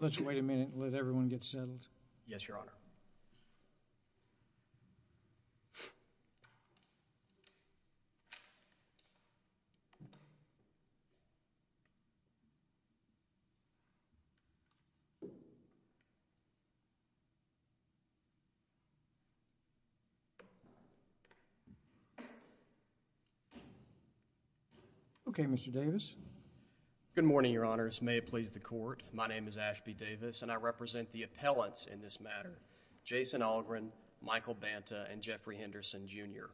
Let's wait a minute and let everyone get settled. Yes, Your Honor. Okay, Mr. Davis. Good morning, Your Honors. May it please the Court, my name is Ashby Davis and I represent the appellants in this matter, Jason Allgrunn, Michael Banta, and Jeffrey Henderson, Jr.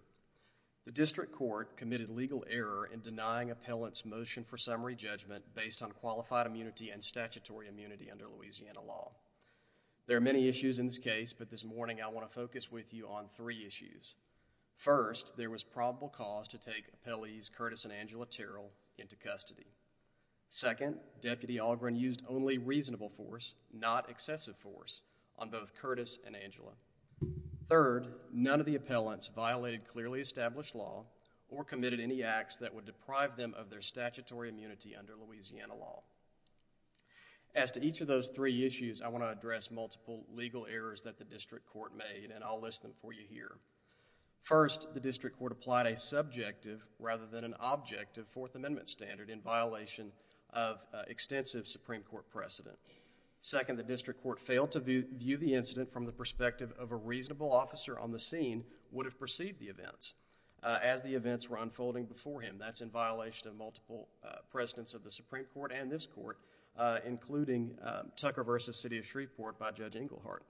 The District Court committed legal error in denying appellants' motion for summary judgment based on qualified immunity and statutory immunity under Louisiana law. There are many issues in this case, but this morning I want to focus with you on three issues. First, there was probable cause to take appellees Curtis and Angela Terrell into custody. Second, Deputy Allgrunn used only reasonable force, not excessive force, on both Curtis and Angela. Third, none of the appellants violated clearly established law or committed any acts that would deprive them of their statutory immunity under Louisiana law. As to each of those three issues, I want to address multiple legal errors that the District Court made and I'll list them for you here. First, the District Court applied a subjective rather than an objective Fourth Amendment standard in violation of extensive Supreme Court precedent. Second, the District Court failed to view the incident from the perspective of a reasonable officer on the scene would have perceived the events as the events were unfolding before him. That's in violation of multiple precedents of the Supreme Court and this Court, including Tucker v. City of Shreveport by Judge Englehart.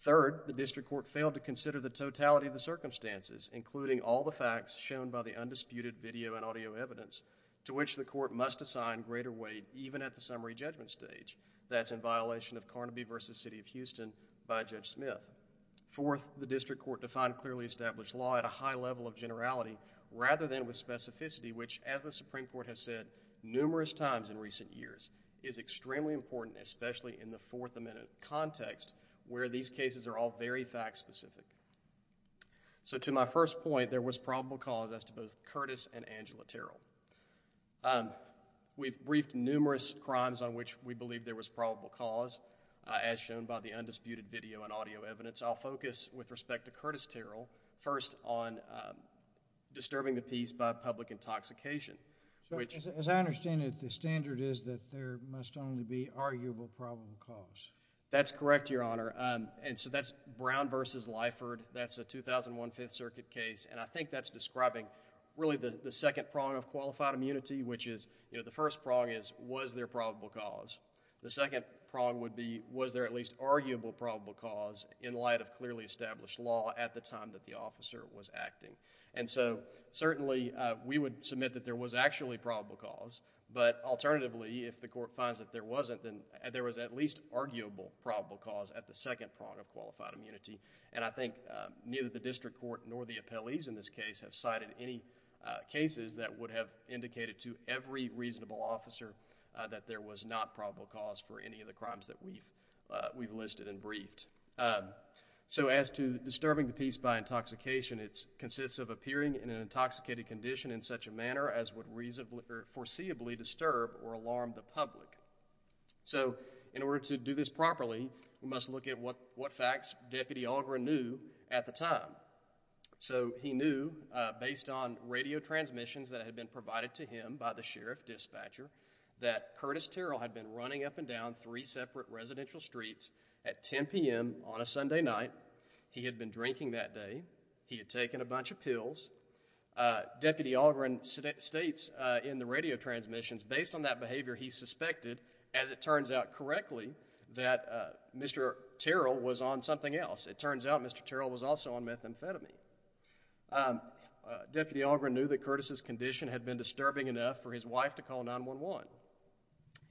Third, the District Court failed to consider the totality of the circumstances, including all the facts shown by the undisputed video and audio evidence, to which the Court must assign greater weight even at the summary judgment stage. That's in violation of Carnaby v. City of Houston by Judge Smith. Fourth, the District Court defined clearly established law at a high level of generality rather than with specificity, which, as the Supreme Court has said numerous times in recent years, is extremely important, especially in the Fourth Amendment context where these cases are all very fact-specific. So, to my first point, there was probable cause as to both Curtis and Angela Terrell. We've briefed numerous crimes on which we believe there was probable cause, as shown by the undisputed video and audio evidence. I'll focus, with respect to Curtis Terrell, first on disturbing the peace by public intoxication. As I understand it, the standard is that there must only be arguable probable cause. That's correct, Your Honor. That's Brown v. Lyford. That's a 2001 Fifth Circuit case. I think that's describing, really, the second prong of qualified immunity, which is, the first prong is, was there probable cause? The second prong would be, was there at least arguable probable cause in light of clearly established law at the time that the officer was acting? Certainly, we would submit that there was actually probable cause, but alternatively, if the Court finds that there wasn't, then there was at least arguable probable cause at the second prong of qualified immunity. I think neither the District Court nor the appellees in this case have cited any cases that would have indicated to every reasonable officer that there was not probable cause for any of the crimes that we've listed and briefed. As to disturbing the peace by intoxication, it consists of appearing in an intoxicated condition in such a manner as would foreseeably disturb or alarm the public. So in order to do this properly, we must look at what facts Deputy Algren knew at the time. So he knew, based on radio transmissions that had been provided to him by the Sheriff Dispatcher, that Curtis Terrell had been running up and down three separate residential streets at 10 p.m. on a Sunday night. He had been drinking that day. He had taken a bunch of pills. Deputy Algren states in the radio transmissions, based on that behavior, he suspected, as it turns out correctly, that Mr. Terrell was on something else. It turns out Mr. Terrell was also on methamphetamine. Deputy Algren knew that Curtis' condition had been disturbing enough for his wife to call 911.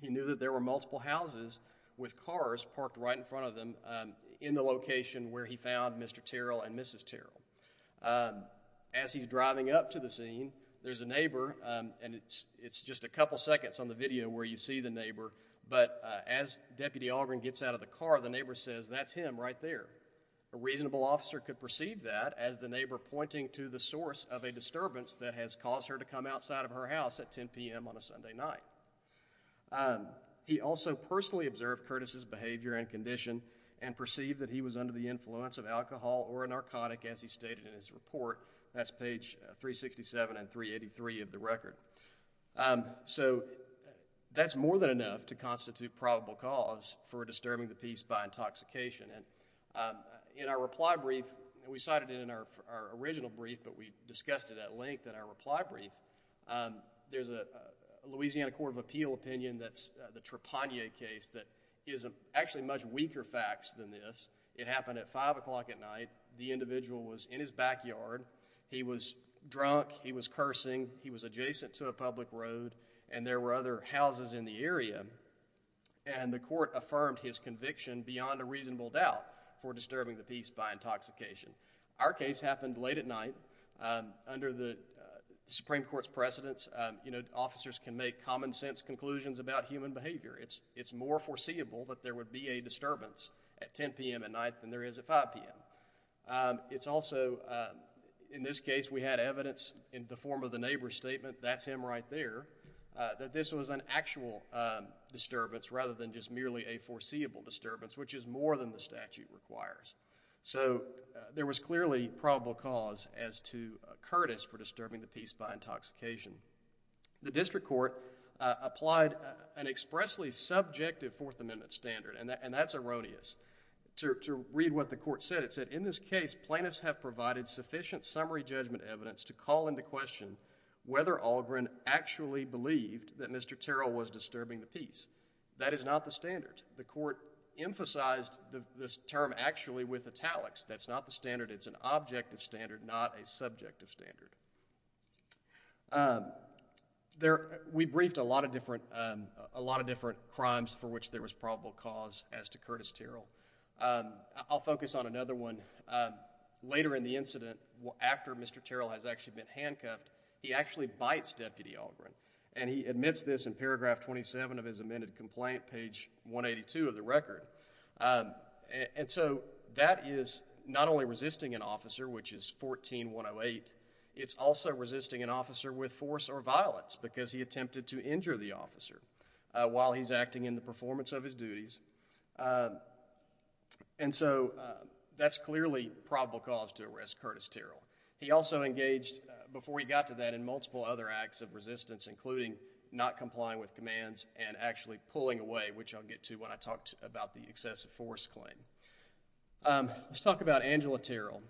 He knew that there were multiple houses with cars parked right in front of them in the location where he found Mr. Terrell and Mrs. Terrell. As he's driving up to the scene, there's a neighbor, and it's just a couple seconds on the video where you see the neighbor, but as Deputy Algren gets out of the car, the neighbor says, that's him right there. A reasonable officer could perceive that as the neighbor pointing to the source of a disturbance that has caused her to come outside of her house at 10 p.m. on a Sunday night. He also personally observed Curtis' behavior and condition and perceived that he was under the influence of alcohol or a narcotic, as he stated in his report. That's page 367 and 383 of the record. So that's more than enough to constitute probable cause for disturbing the peace by intoxication. In our reply brief, and we cited it in our original brief, but we discussed it at length in our reply brief, there's a Louisiana Court of Appeal opinion that's the Trapanier case that is actually much weaker facts than this. It happened at 5 o'clock at night. The individual was in his backyard. He was drunk. He was cursing. He was adjacent to a public road, and there were other houses in the area, and the court affirmed his conviction beyond a reasonable doubt for disturbing the peace by intoxication. Our case happened late at night. Under the Supreme Court's precedence, you know, officers can make common sense conclusions about human behavior. It's more foreseeable that there would be a disturbance at 10 p.m. at night than there is at 5 p.m. It's also, in this case, we had evidence in the form of the neighbor's statement, that's him right there, that this was an actual disturbance rather than just merely a foreseeable disturbance, which is more than the statute requires. So there was clearly probable cause as to Curtis for disturbing the peace by intoxication. The district court applied an expressly subjective Fourth Amendment standard, and that's erroneous. To read what the court said, it said, in this case, plaintiffs have provided sufficient summary judgment evidence to call into question whether Algren actually believed that Mr. Terrell was disturbing the peace. That is not the standard. The court emphasized this term actually with italics. That's not the standard. It's an objective standard, not a subjective standard. We briefed a lot of different crimes for which there was probable cause as to Curtis Terrell. I'll focus on another one. Later in the incident, after Mr. Terrell has actually been handcuffed, he actually bites Deputy Algren, and he admits this in paragraph 27 of his amended complaint, page 182 of the record. And so that is not only resisting an officer, which is 14-108, it's also resisting an officer with force or violence because he attempted to injure the officer while he's acting in the performance of his duties. And so that's clearly probable cause to arrest Curtis Terrell. He also engaged, before he got to that, in multiple other acts of resistance, including not complying with commands and actually pulling away, which I'll get to when I talk about the excessive force claim. Let's talk about Angela Terrell.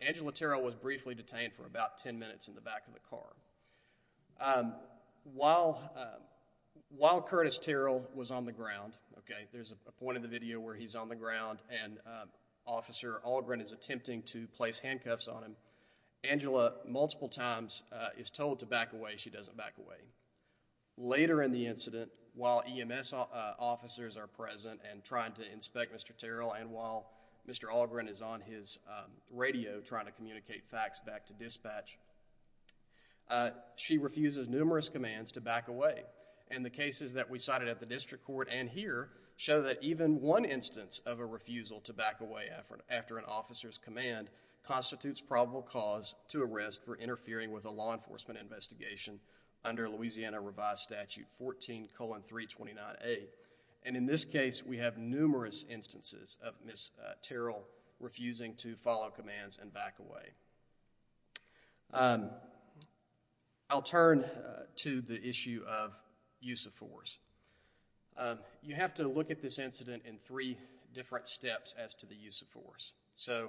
Angela Terrell was briefly detained for about 10 minutes in the back of the car. While Curtis Terrell was on the ground, okay, there's a point in the video where he's on the ground and Officer Algren is attempting to place handcuffs on him, Angela multiple times is told to back away. She doesn't back away. Later in the incident, while EMS officers are present and trying to inspect Mr. Terrell and while Mr. Algren is on his radio trying to communicate facts back to dispatch, she refuses numerous commands to back away. And the cases that we cited at the district court and here show that even one instance of a refusal to back away after an officer's command constitutes probable cause to arrest for interfering with a law enforcement investigation under Louisiana Revised Statute 14,329A. And in this case, we have numerous instances of Ms. Terrell refusing to follow commands and back away. I'll turn to the issue of use of force. You have to look at this incident in three different steps as to the use of force. So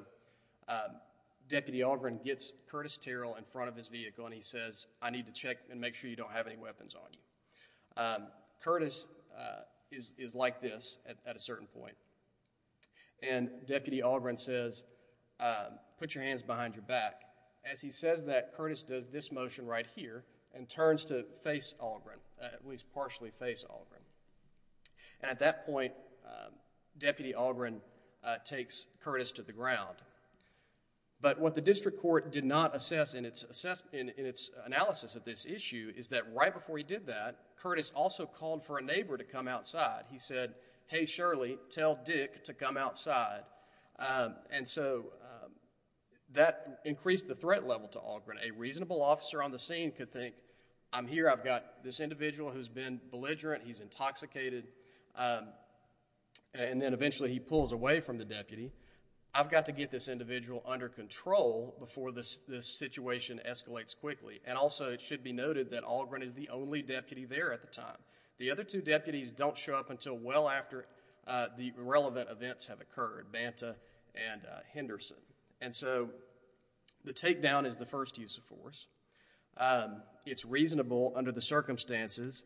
Deputy Algren gets Curtis Terrell in front of his vehicle and he says, I need to check and make sure you don't have any weapons on you. Curtis is like this at a certain point and Deputy Algren says, put your hands behind your back. As he says that, Curtis does this motion right here and turns to face Algren, at least partially face Algren. And at that point, Deputy Algren takes Curtis to the ground. But what the district court did not assess in its analysis of this issue is that right before he did that, Curtis also called for a neighbor to come outside. He said, hey Shirley, tell Dick to come outside. And so that increased the threat level to Algren. A reasonable officer on the scene could think, I'm here, I've got this individual who's been belligerent, he's intoxicated, and then eventually he pulls away from the deputy. I've got to get this individual under control before this situation escalates quickly. And also it should be noted that Algren is the only deputy there at the time. The other two deputies don't show up until well after the relevant events have occurred, Banta and Henderson. And so the takedown is the first use of force. It's reasonable under the circumstances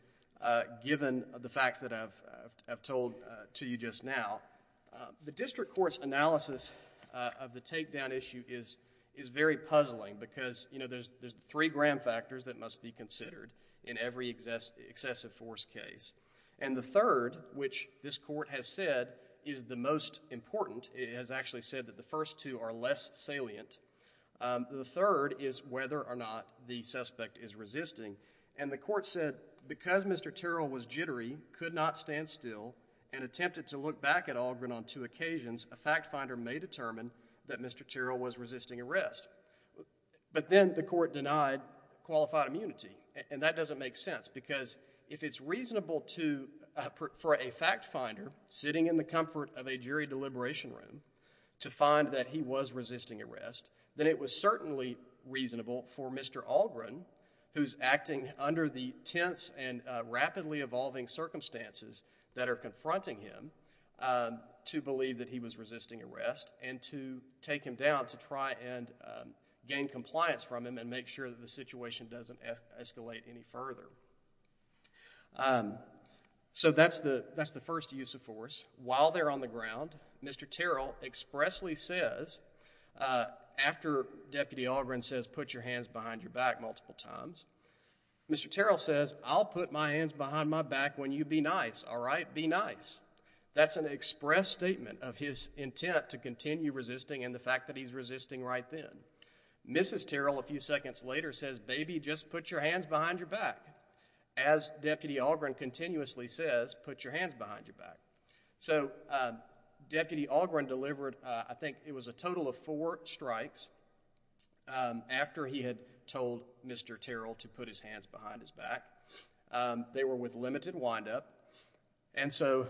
given the facts that I've told to you just now. The district court's analysis of the takedown issue is very puzzling because there's three gram factors that must be considered in every excessive force case. And the third, which this court has said is the most important, it has actually said that the first two are less salient. The third is whether or not the suspect is resisting. And the court said, because Mr. Terrell was jittery, could not stand still, and attempted to look back at Algren on two occasions, a fact finder may determine that Mr. Terrell was resisting arrest. But then the court denied qualified immunity, and that doesn't make sense. Because if it's reasonable for a fact finder sitting in the comfort of a jury deliberation room to find that he was resisting arrest, then it was certainly reasonable for Mr. Algren, who's acting under the tense and rapidly evolving circumstances that are confronting him, to believe that he was resisting arrest, and to take him down to try and gain compliance from him and make sure that the situation doesn't escalate any further. So that's the first use of force. While they're on the ground, Mr. Terrell expressly says, after Deputy Algren says put your hands behind your back multiple times, Mr. Terrell says, I'll put my hands behind my back when you be nice, all right, be nice. That's an express statement of his intent to continue resisting and the fact that he's resisting right then. Mrs. Terrell, a few seconds later, says, baby, just put your hands behind your back. As Deputy Algren continuously says, put your hands behind your back. So Deputy Algren delivered, I think it was a total of four strikes after he had told Mr. Terrell to put his hands behind his back. They were with limited wind up. And so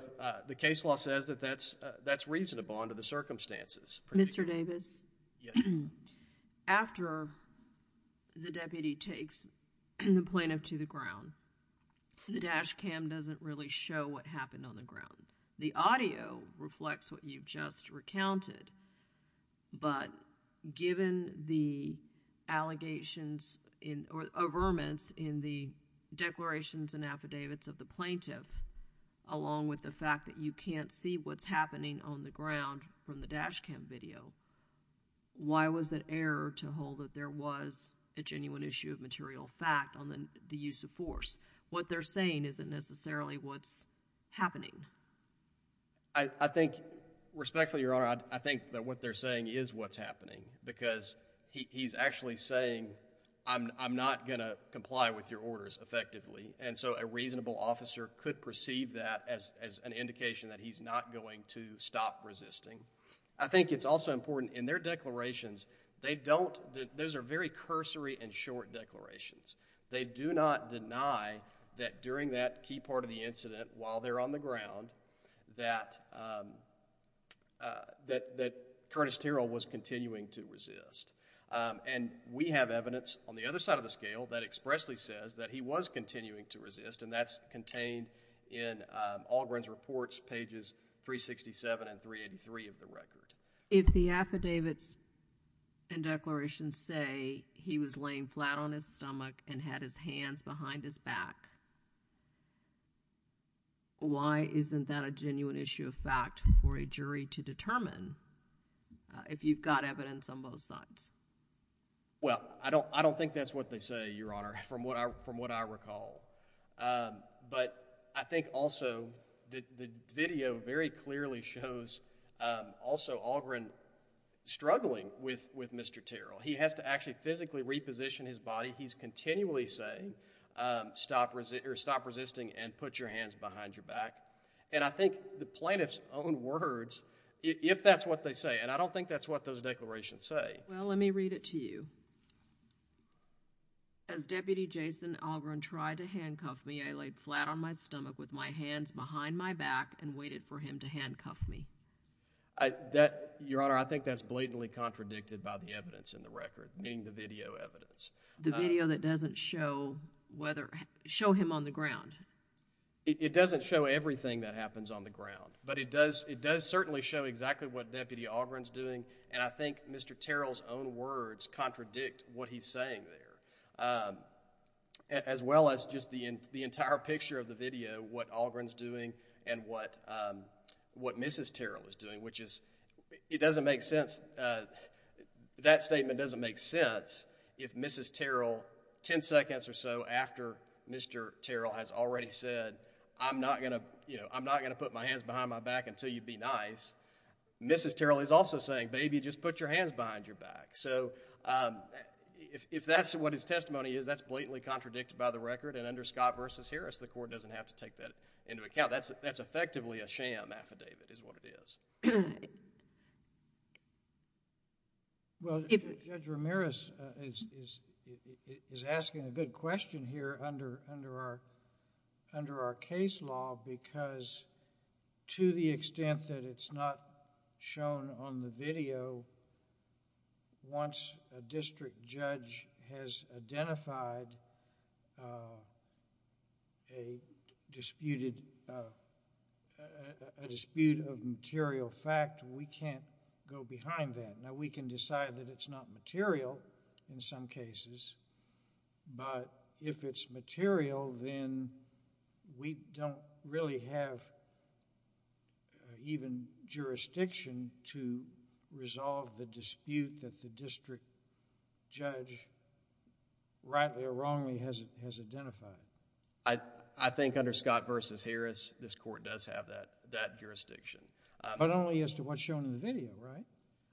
the case law says that that's reasonable under the circumstances. Mr. Davis? After the deputy takes the plaintiff to the ground, the dash cam doesn't really show what happened on the ground. The audio reflects what you've just recounted, but given the allegations or averments in the declarations and affidavits of the plaintiff, along with the fact that you can't see what's happening on the ground from the dash cam video, why was it error to hold that there was a genuine issue of material fact on the use of force? What they're saying isn't necessarily what's happening. I think, respectfully, Your Honor, I think that what they're saying is what's happening. Because he's actually saying, I'm not gonna comply with your orders effectively. And so a reasonable officer could perceive that as an indication that he's not going to stop resisting. I think it's also important, in their declarations, they don't, those are very cursory and short declarations. They do not deny that during that key part of the incident, while they're on the ground, that Curtis Terrell was continuing to resist. And we have evidence on the other side of the scale that expressly says that he was continuing to resist, and that's contained in Allgren's reports, pages 367 and 383 of the record. If the affidavits and declarations say he was laying flat on his stomach and had his hands behind his back, why isn't that a genuine issue of fact for a jury to determine if you've got evidence on both sides? Well, I don't think that's what they say, Your Honor, from what I recall. But I think also the video very clearly shows also Allgren struggling with Mr. Terrell. He has to actually physically reposition his body. He's continually saying, stop resisting and put your hands behind your back. And I think the plaintiff's own words, if that's what they say, and I don't think that's what those declarations say. Well, let me read it to you. As Deputy Jason Allgren tried to handcuff me, I laid flat on my stomach with my hands behind my back and waited for him to handcuff me. Your Honor, I think that's blatantly contradicted by the evidence in the record, meaning the video evidence. The video that doesn't show him on the ground. It doesn't show everything that happens on the ground, but it does certainly show exactly what Deputy Allgren's doing. And I think Mr. Terrell's own words contradict what he's saying there, as well as just the entire picture of the video, what Allgren's doing and what Mrs. Terrell is doing, which is, it doesn't make sense. That statement doesn't make sense if Mrs. Terrell, 10 seconds or so after Mr. Terrell has already said, I'm not going to put my hands behind my back until you be nice. Mrs. Terrell is also saying, baby, just put your hands behind your back. So if that's what his testimony is, that's blatantly contradicted by the record. And under Scott versus Harris, the court doesn't have to take that into account. That's effectively a sham affidavit, is what it is. Well, Judge Ramirez is asking a good question here under our case law, because to the extent that it's not shown on the video, once a district judge has identified a dispute of material fact, we can't go behind that. Now, we can decide that it's not material in some cases, but if it's material, then we don't really have even jurisdiction to resolve the dispute that the district judge rightly or wrongly has identified. I think under Scott versus Harris, this court does have that jurisdiction. But only as to what's shown in the video, right?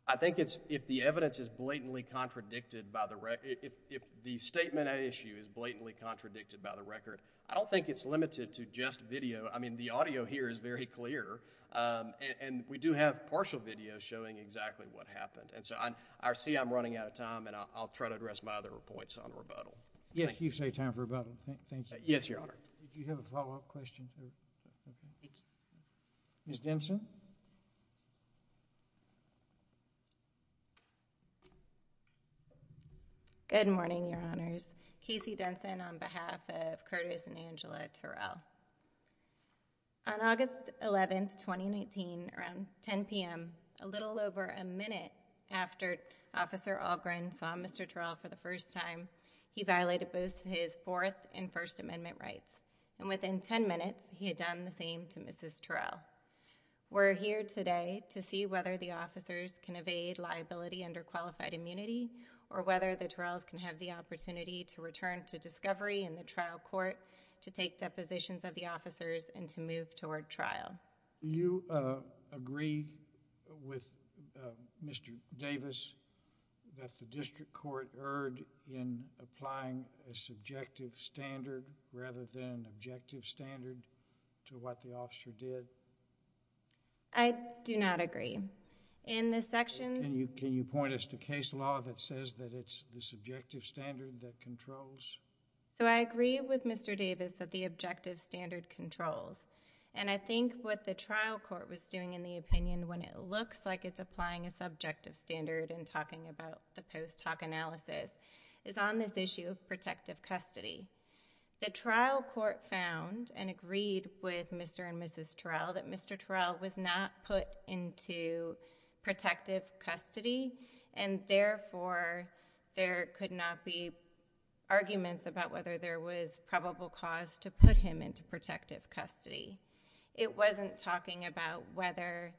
I think if the evidence is blatantly contradicted by the record, if the statement at issue is blatantly contradicted by the record, I don't think it's limited to just video. I mean, the audio here is very clear, and we do have partial video showing exactly what happened. And so I see I'm running out of time, and I'll try to address my other points on rebuttal. Yes, you say time for rebuttal. Thank you. Yes, Your Honor. Do you have a follow-up question? Ms. Denson. Good morning, Your Honors. Casey Denson on behalf of Curtis and Angela Terrell. On August 11th, 2019, around 10 p.m., a little over a minute after Officer Algren saw Mr. Terrell for the first time, he violated both his Fourth and First Amendment rights. And within 10 minutes, he had done the same to Mrs. Terrell. We're here today to see whether the officers can evade liability under qualified immunity, or whether the Terrells can have the opportunity to return to discovery in the trial court to take depositions of the officers and to move toward trial. Do you agree with Mr. Davis that the district court erred in applying a subjective standard, rather than an objective standard, to what the officer did? I do not agree. In this section— Can you point us to case law that says that it's the subjective standard that controls? So I agree with Mr. Davis that the objective standard controls. And I think what the trial court was doing in the opinion, when it looks like it's applying a subjective standard and talking about the post hoc analysis, is on this issue of protective custody. The trial court found and agreed with Mr. and Mrs. Terrell that Mr. Terrell was not put into protective custody, and therefore there could not be arguments about whether there was probable cause to put him into protective custody. It wasn't talking about whether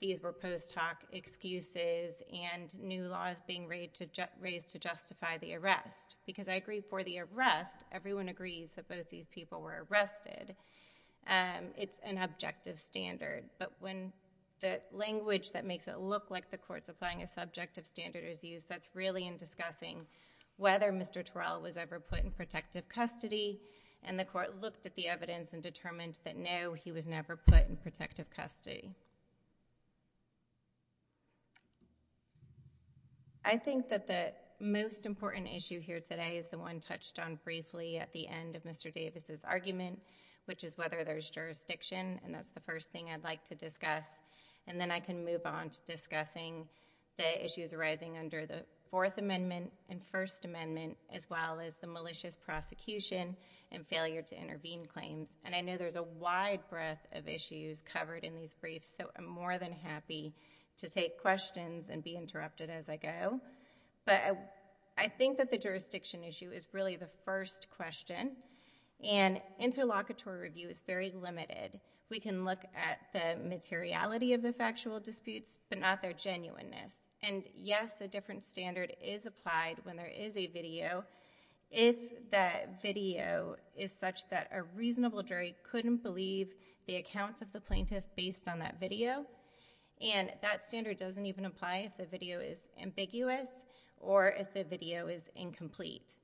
these were post hoc excuses and new laws being raised to justify the arrest. Because I agree for the arrest, everyone agrees that both these people were arrested. It's an objective standard. But when the language that makes it look like the court's applying a subjective standard is used, that's really in discussing whether Mr. Terrell was ever put in protective custody. And the court looked at the evidence and determined that no, he was never put in protective custody. I think that the most important issue here today is the one touched on briefly at the end of Mr. Davis' argument, which is whether there's jurisdiction, and that's the first thing I'd like to discuss. And then I can move on to discussing the issues arising under the Fourth Amendment and First Amendment, as well as the malicious prosecution and failure to intervene claims. And I know there's a wide breadth of issues covered in these briefs, so I'm more than happy to take questions and be interrupted as I go. But I think that the jurisdiction issue is really the first question. And interlocutory review is very limited. We can look at the materiality of the factual disputes, but not their genuineness. And yes, a different standard is applied when there is a video, if that video is such that a reasonable jury couldn't believe the account of the plaintiff based on that video. And that standard doesn't even apply if the video is ambiguous or if the video is incomplete.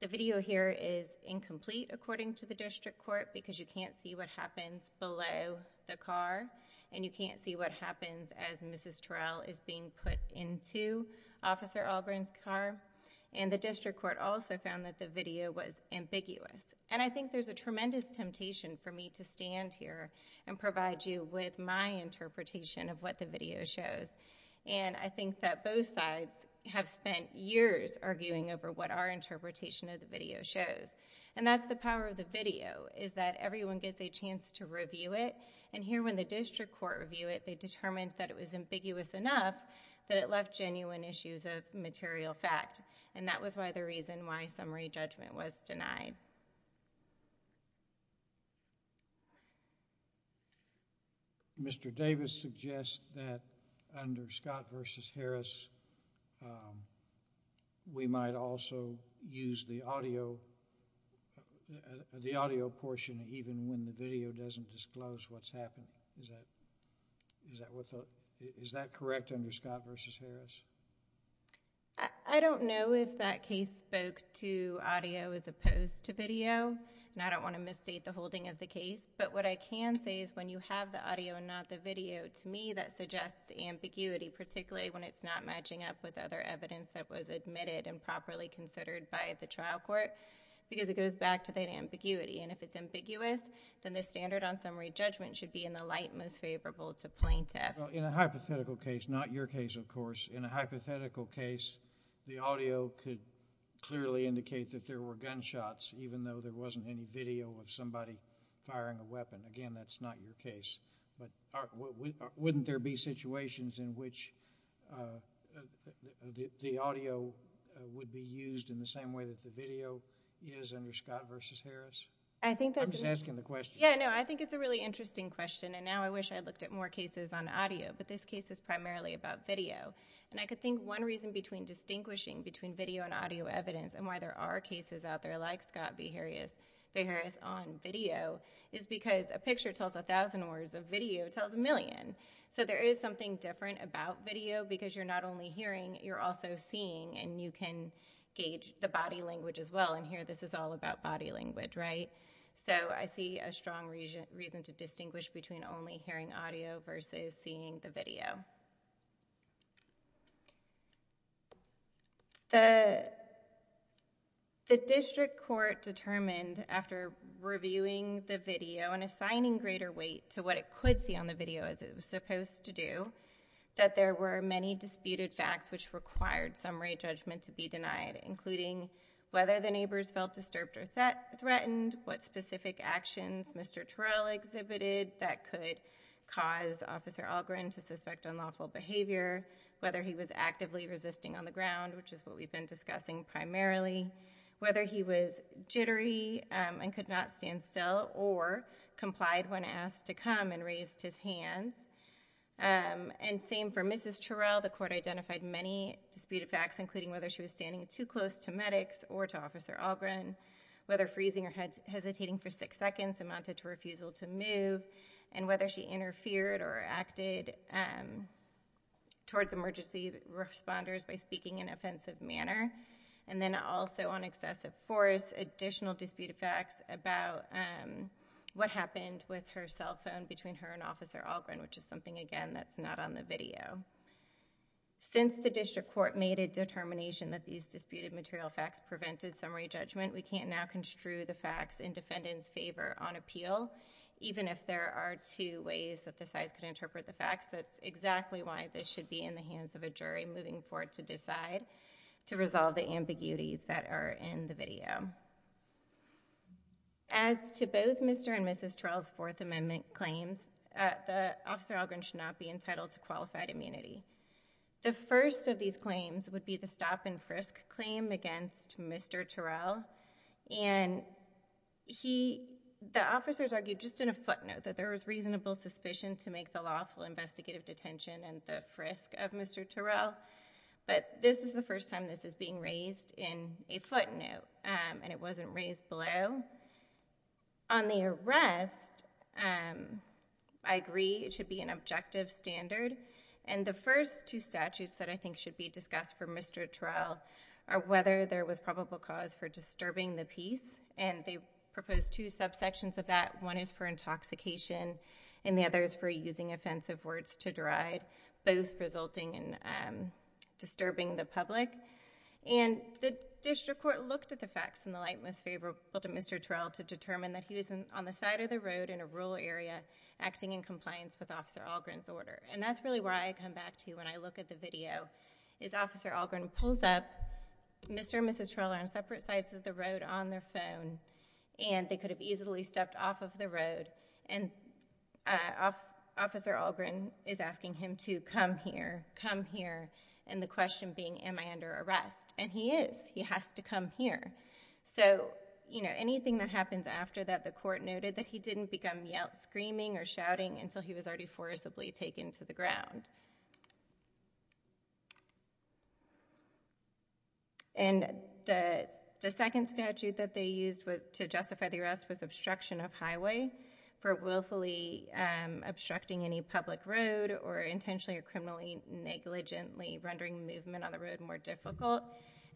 The video here is incomplete, according to the district court, because you can't see what happens below the car, and you can't see what happens as Mrs. Terrell is being put into Officer Algren's car. And the district court also found that the video was ambiguous. And I think there's a tremendous temptation for me to stand here and provide you with my interpretation of what the video shows. And I think that both sides have spent years arguing over what our interpretation of the video shows. And that's the power of the video, is that everyone gets a chance to review it. And here, when the district court reviewed it, they determined that it was ambiguous enough that it left genuine issues of material fact. And that was why the reason why summary judgment was denied. Mr. Davis suggests that under Scott v. Harris, we might also use the audio portion even when the video doesn't disclose what's happened. Is that correct under Scott v. Harris? I don't know if that case spoke to audio as opposed to video. And I don't want to misstate the holding of the case. But what I can say is when you have the audio and not the video, to me that suggests ambiguity, particularly when it's not matching up with other evidence that was admitted and properly considered by the trial court, because it goes back to that ambiguity. And if it's ambiguous, then the standard on summary judgment should be in the light most favorable to plaintiff. In a hypothetical case, not your case, of course, in a hypothetical case, the audio could clearly indicate that there were gunshots, even though there wasn't any video of somebody firing a weapon. Again, that's not your case. But wouldn't there be situations in which the audio would be used in the same way that the video is under Scott v. Harris? I'm just asking the question. Yeah, no, I think it's a really interesting question. And now I wish I looked at more cases on audio. But this case is primarily about video. And I could think one reason between distinguishing between video and audio evidence and why there are cases out there like Scott v. Harris on video is because a picture tells a thousand words, a video tells a million. So there is something different about video because you're not only hearing, you're also seeing and you can gauge the body language as well. And here this is all about body language, right? So I see a strong reason to distinguish between only hearing audio versus seeing the video. The district court determined after reviewing the video and assigning greater weight to what it could see on the video as it was supposed to do, that there were many disputed facts which required summary judgment to be denied, including whether the neighbors felt disturbed or threatened, what specific actions Mr. Terrell exhibited that could cause Officer Algren to suspect unlawful behavior, whether he was actively resisting on the ground, which is what we've been discussing primarily, whether he was jittery and could not stand still or complied when asked to come and raised his hands. And same for Mrs. Terrell, the court identified many disputed facts, including whether she was standing too close to medics or to Officer Algren, whether freezing or hesitating for six seconds amounted to refusal to move, and whether she interfered or acted towards emergency responders by speaking in an offensive manner. And then also on excessive force, additional disputed facts about what happened with her cell phone between her and Officer Algren, which is something, again, that's not on the video. Since the district court made a determination that these disputed material facts prevented summary judgment, we can't now construe the facts in defendant's favor on appeal, even if there are two ways that the sides could interpret the facts. That's exactly why this should be in the hands of a jury moving forward to decide to resolve the ambiguities that are in the video. As to both Mr. and Mrs. Terrell's Fourth Amendment claims, the Officer Algren should not be entitled to qualified immunity. The first of these claims would be the stop-and-frisk claim against Mr. Terrell. And the officers argued just in a footnote that there was reasonable suspicion to make the lawful investigative detention and the frisk of Mr. Terrell. But this is the first time this is being raised in a footnote, and it wasn't raised below. On the arrest, I agree it should be an objective standard. And the first two statutes that I think should be discussed for Mr. Terrell are whether there was probable cause for disturbing the peace. And they proposed two subsections of that. One is for intoxication, and the other is for using offensive words to deride, both resulting in disturbing the public. And the district court looked at the facts in the light most favorable to Mr. Terrell to determine that he was on the side of the road in a rural area acting in compliance with Officer Algren's order. And that's really where I come back to when I look at the video, is Officer Algren pulls up. Mr. and Mrs. Terrell are on separate sides of the road on their phone, and they could have easily stepped off of the road. And Officer Algren is asking him to come here, come here. And the question being, am I under arrest? And he is. He has to come here. So, you know, anything that happens after that, the court noted that he didn't become yelled, screaming, or shouting until he was already forcibly taken to the ground. And the second statute that they used to justify the arrest was obstruction of highway for willfully obstructing any public road or intentionally or criminally negligently rendering movement on the road more difficult.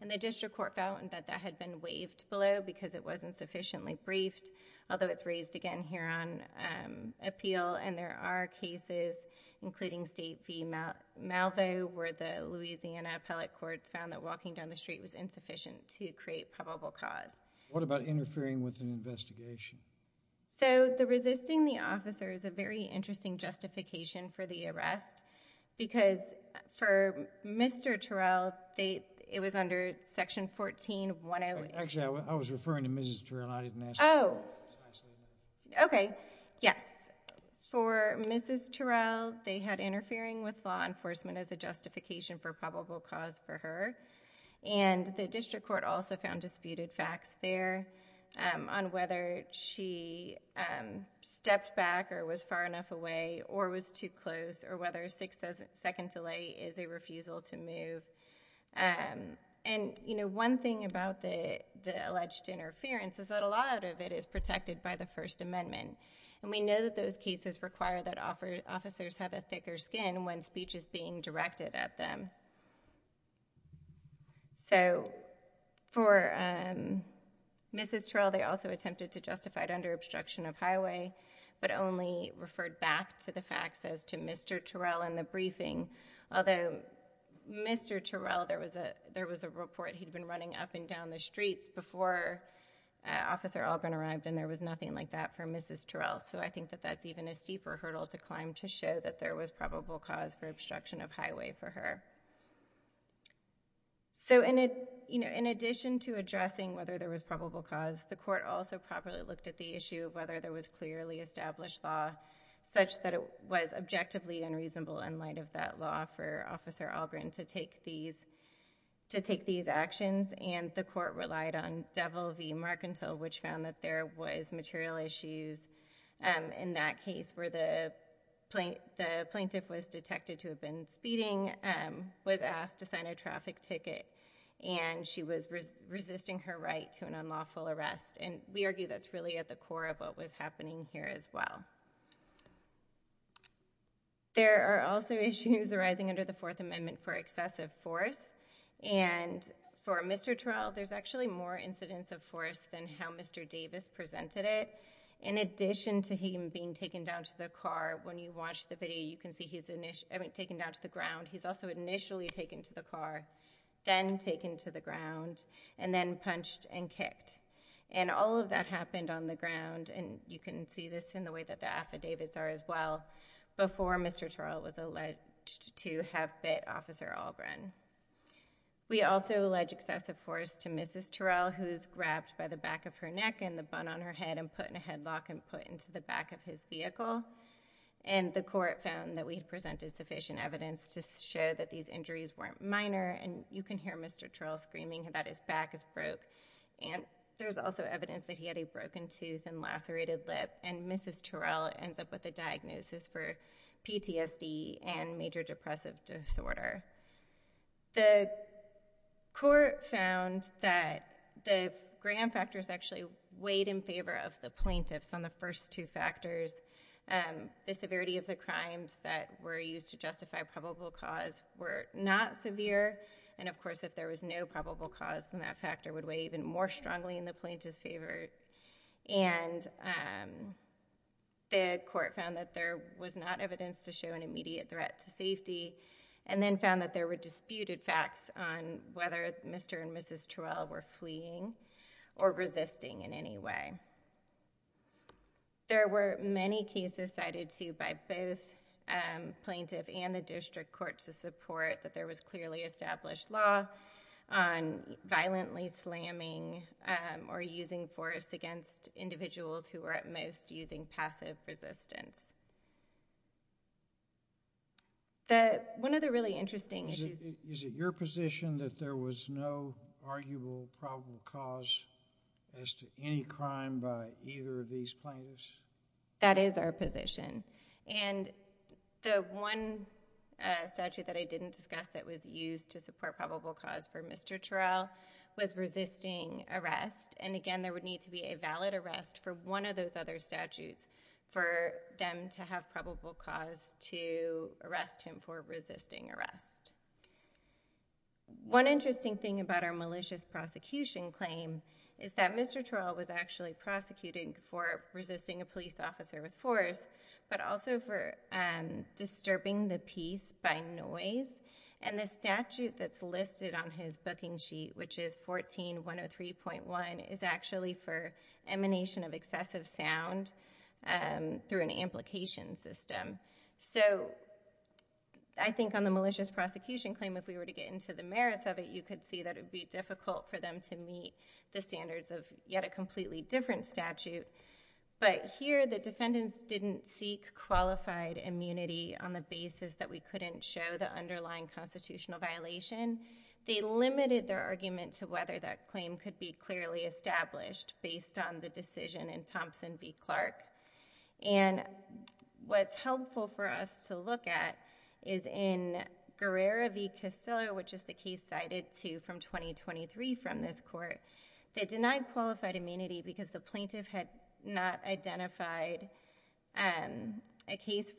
And the district court found that that had been waived below because it wasn't sufficiently briefed, although it's raised again here on appeal. And there are cases, including State v. Malvo, where the Louisiana Appellate Courts found that walking down the street was insufficient to create probable cause. What about interfering with an investigation? So the resisting the officer is a very interesting justification for the arrest because for Mr. Terrell, it was under Section 14108. Actually, I was referring to Mrs. Terrell. I didn't ask you. Okay. Yes. For Mrs. Terrell, they had interfering with law enforcement as a justification for probable cause for her. And the district court also found disputed facts there on whether she stepped back or was far enough away or was too close or whether a six-second delay is a refusal to move. And, you know, one thing about the alleged interference is that a lot of it is protected by the First Amendment. And we know that those cases require that officers have a thicker skin when speech is being directed at them. So for Mrs. Terrell, they also attempted to justify it under obstruction of highway, but only referred back to the facts as to Mr. Terrell in the briefing. Although, Mr. Terrell, there was a report he'd been running up and down the streets before Officer Alban arrived, and there was nothing like that for Mrs. Terrell. So I think that that's even a steeper hurdle to climb to show that there was probable cause for obstruction of highway for her. So, you know, in addition to addressing whether there was probable cause, the court also properly looked at the issue of whether there was clearly established law such that it was objectively unreasonable in light of that law for Officer Algren to take these actions. And the court relied on Devil v. Markintel, which found that there was material issues in that case where the plaintiff was detected to have been speeding, was asked to sign a traffic ticket, and she was resisting her right to an unlawful arrest. And we argue that's really at the core of what was happening here as well. There are also issues arising under the Fourth Amendment for excessive force. And for Mr. Terrell, there's actually more incidents of force than how Mr. Davis presented it. In addition to him being taken down to the car, when you watch the video, you can see he's taken down to the ground. He's also initially taken to the car. Then taken to the ground. And then punched and kicked. And all of that happened on the ground, and you can see this in the way that the affidavits are as well, before Mr. Terrell was alleged to have bit Officer Algren. We also allege excessive force to Mrs. Terrell, who's grabbed by the back of her neck and the bun on her head and put in a headlock and put into the back of his vehicle. And the court found that we had presented sufficient evidence to show that these injuries weren't minor. And you can hear Mr. Terrell screaming that his back is broke. And there's also evidence that he had a broken tooth and lacerated lip. And Mrs. Terrell ends up with a diagnosis for PTSD and major depressive disorder. The court found that the grand factors actually weighed in favor of the plaintiffs on the first two factors. The severity of the crimes that were used to justify probable cause were not severe. And of course, if there was no probable cause, then that factor would weigh even more strongly in the plaintiff's favor. And the court found that there was not evidence to show an immediate threat to safety. And then found that there were disputed facts on whether Mr. and Mrs. Terrell were fleeing or resisting in any way. There were many cases cited to by both plaintiff and the district court to support that there was clearly established law on violently slamming or using force against individuals who were at most using passive resistance. One of the really interesting issues... Is it your position that there was no arguable probable cause as to any crime by either of these plaintiffs? That is our position. And the one statute that I didn't discuss that was used to support probable cause for Mr. Terrell was resisting arrest. And again, there would need to be a valid arrest for one of those other statutes for them to have probable cause to arrest him for resisting arrest. One interesting thing about our malicious prosecution claim is that Mr. Terrell was actually prosecuting for resisting a police officer with force, but also for disturbing the peace by noise. And the statute that's listed on his booking sheet, which is 14103.1, is actually for emanation of excessive sound through an amplication system. So I think on the malicious prosecution claim, if we were to get into the merits of it, you could see that it would be difficult for them to meet the standards of yet a completely different statute. But here the defendants didn't seek qualified immunity on the basis that we couldn't show the underlying constitutional violation. They limited their argument to whether that claim could be clearly established based on the decision in Thompson v. Clark. And what's helpful for us to look at is in Guerrero v. Castillo, which is the case cited to from 2023 from this court, they denied qualified immunity because the plaintiff had not identified a case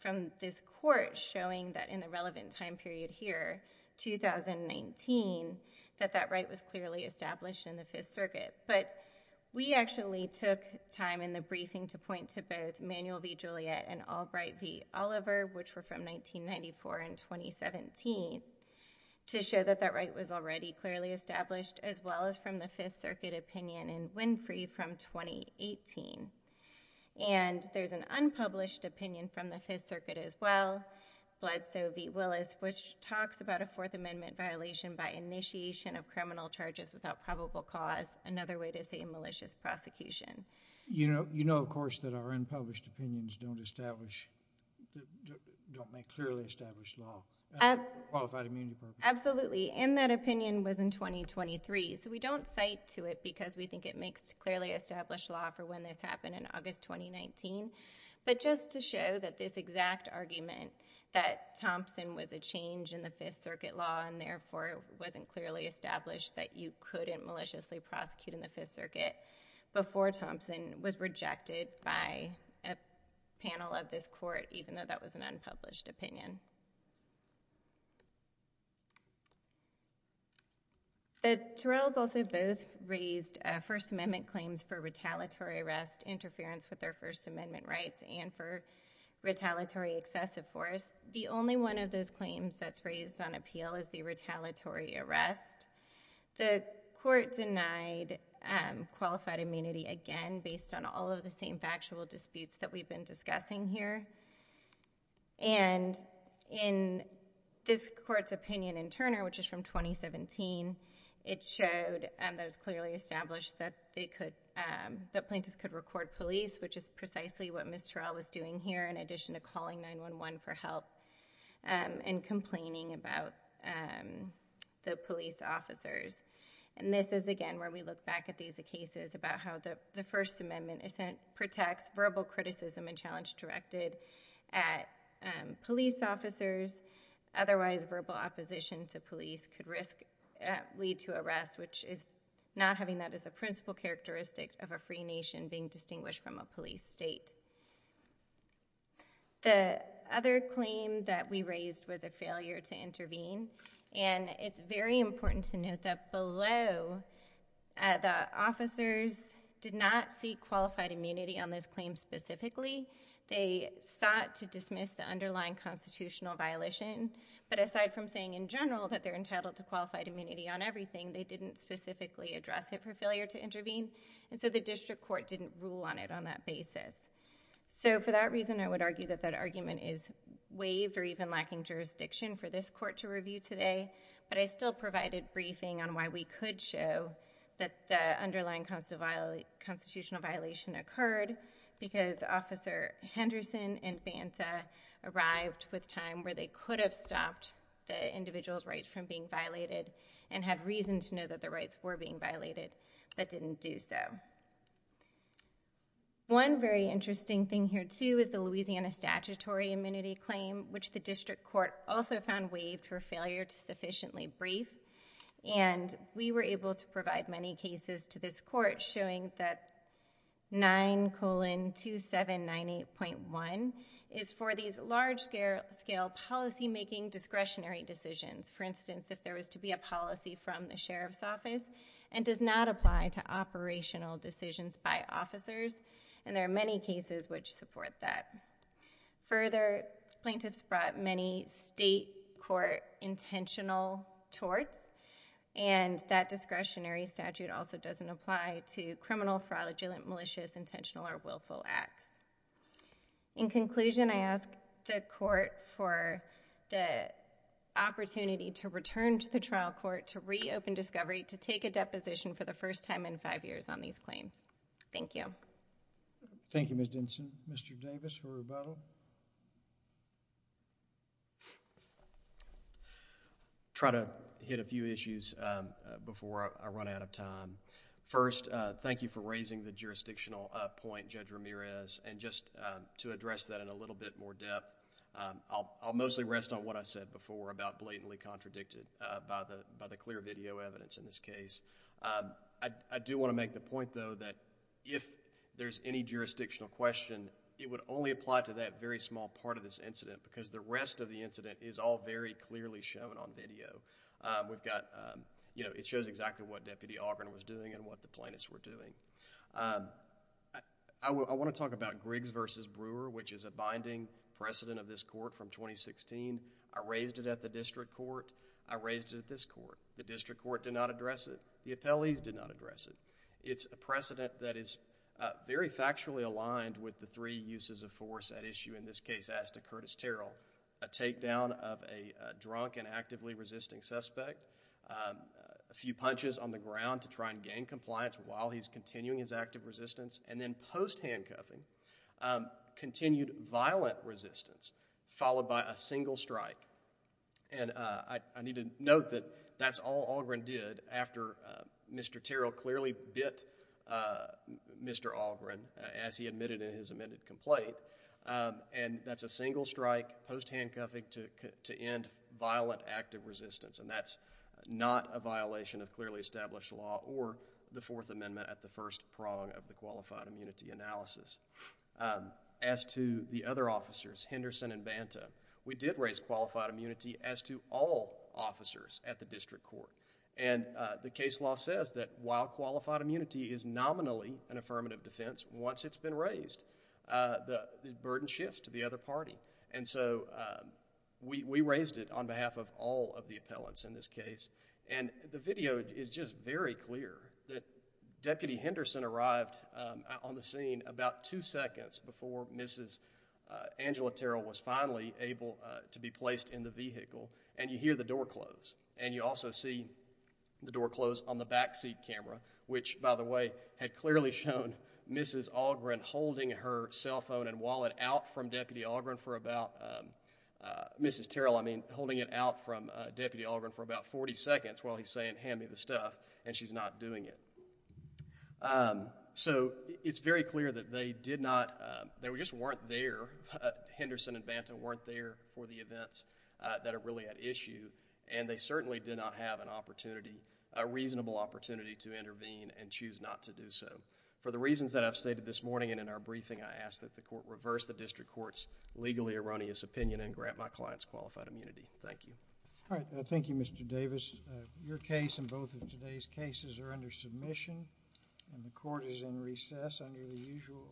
from this court showing that in the relevant time period here, 2019, that that right was clearly established in the Fifth Circuit. But we actually took time in the briefing to point to both Manuel v. Juliet and Albright v. Oliver, which were from 1994 and 2017, to show that that right was already clearly established as well as from the Fifth Circuit opinion in Winfrey from 2018. And there's an unpublished opinion from the Fifth Circuit as well, Bledsoe v. Willis, which talks about a Fourth Amendment violation by initiation of criminal charges without probable cause, another way to say a malicious prosecution. You know, of course, that our unpublished opinions don't establish, don't make clearly established law, qualified immunity purposes. Absolutely. And that opinion was in 2023. So we don't cite to it because we think it makes clearly established law for when this happened in August 2019. But just to show that this exact argument, that Thompson was a change in the Fifth Circuit law and therefore wasn't clearly established, that you couldn't maliciously prosecute in the Fifth Circuit before Thompson was rejected by a panel of this court, even though that was an unpublished opinion. The Terrells also both raised First Amendment claims for retaliatory arrest, interference with their First Amendment rights, and for retaliatory excessive force. The only one of those claims that's raised on appeal is the retaliatory arrest. The court denied qualified immunity again based on all of the same factual disputes that we've been discussing here. And in this court's opinion in Turner, which is from 2017, it showed that it was clearly established that plaintiffs could record police, which is precisely what Ms. Terrell was doing here, in addition to calling 911 for help and complaining about the police officers. And this is, again, where we look back at these cases about how the First Amendment protects verbal criticism and challenge directed at police officers. Otherwise, verbal opposition to police could risk lead to arrest, which is not having that as the principal characteristic of a free nation being distinguished from a police state. The other claim that we raised was a failure to intervene. And it's very important to note that below, the officers did not seek qualified immunity on this claim specifically. They sought to dismiss the underlying constitutional violation. But aside from saying in general that they're entitled to qualified immunity on everything, they didn't specifically address it for failure to intervene. And so the district court didn't rule on it on that basis. So for that reason, I would argue that that argument is waived or even lacking jurisdiction for this court to review today. But I still provided briefing on why we could show that the underlying constitutional violation occurred because Officer Henderson and Banta arrived with time where they could have stopped the individual's rights from being violated and had reason to know that the rights were being violated, but didn't do so. One very interesting thing here, too, is the Louisiana statutory immunity claim, which the district court also found waived for failure to sufficiently brief. And we were able to provide many cases to this court showing that 9 colon 2798.1 is for these large-scale policymaking discretionary decisions. For instance, if there was to be a policy from the sheriff's office and does not apply to operational decisions by officers. And there are many cases which support that. Further, plaintiffs brought many state court intentional torts. And that discretionary statute also doesn't apply to criminal, fraudulent, malicious, intentional, or willful acts. In conclusion, I ask the court for the opportunity to return to the trial court to reopen discovery, to take a deposition for the first time in five years on these claims. Thank you. Thank you, Ms. Denson. Mr. Davis for rebuttal. Try to hit a few issues before I run out of time. First, thank you for raising the jurisdictional point, Judge Ramirez. And just to address that in a little bit more depth, I'll mostly rest on what I said before about blatantly contradicted by the clear video evidence in this case. I do want to make the point, though, that if there's any jurisdictional question, it would only apply to that very small part of this incident because the rest of the incident is all very clearly shown on video. We've got, you know, it shows exactly what Deputy Ogren was doing and what the plaintiffs were doing. I want to talk about Griggs v. Brewer, which is a binding precedent of this court from 2016. I raised it at the district court. I raised it at this court. The district court did not address it. The appellees did not address it. It's a precedent that is very factually aligned with the three uses of force at issue in this case, as to Curtis Terrell. A takedown of a drunk and actively resisting suspect, a few punches on the ground to try and gain compliance while he's continuing his active resistance, and then post-handcuffing, continued violent resistance, followed by a single strike. And I need to note that that's all Ogren did after Mr. Terrell clearly bit Mr. Ogren, as he admitted in his amended complaint. And that's a single strike, post-handcuffing to end violent active resistance. And that's not a violation of clearly established law or the Fourth Amendment at the first prong of the qualified immunity analysis. As to the other officers, Henderson and Banta, we did raise qualified immunity as to all officers at the district court. And the case law says that while qualified immunity is nominally an affirmative defense, once it's been raised, the burden shifts to the other party. And so we raised it on behalf of all of the appellants in this case. And the video is just very clear that Deputy Henderson arrived on the scene about two seconds before Mrs. Angela Terrell was finally able to be placed in the vehicle, and you hear the door close. And you also see the door close on the backseat camera, which, by the way, had clearly shown Mrs. Ogren holding her cell phone and wallet out from Deputy Ogren for about, Mrs. Terrell, I mean, holding it out from Deputy Ogren for about 40 seconds while he's saying, hand me the stuff, and she's not doing it. So it's very clear that they did not, they just weren't there, Henderson and Banta weren't there for the events that are really at issue. And they certainly did not have an opportunity, a reasonable opportunity to intervene and choose not to do so. For the reasons that I've stated this morning and in our briefing, I ask that the court reverse the district court's legally erroneous opinion and grant my clients qualified immunity. Thank you. All right, thank you, Mr. Davis. Your case and both of today's cases are under submission, and the court is in recess under the usual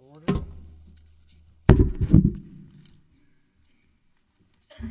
order.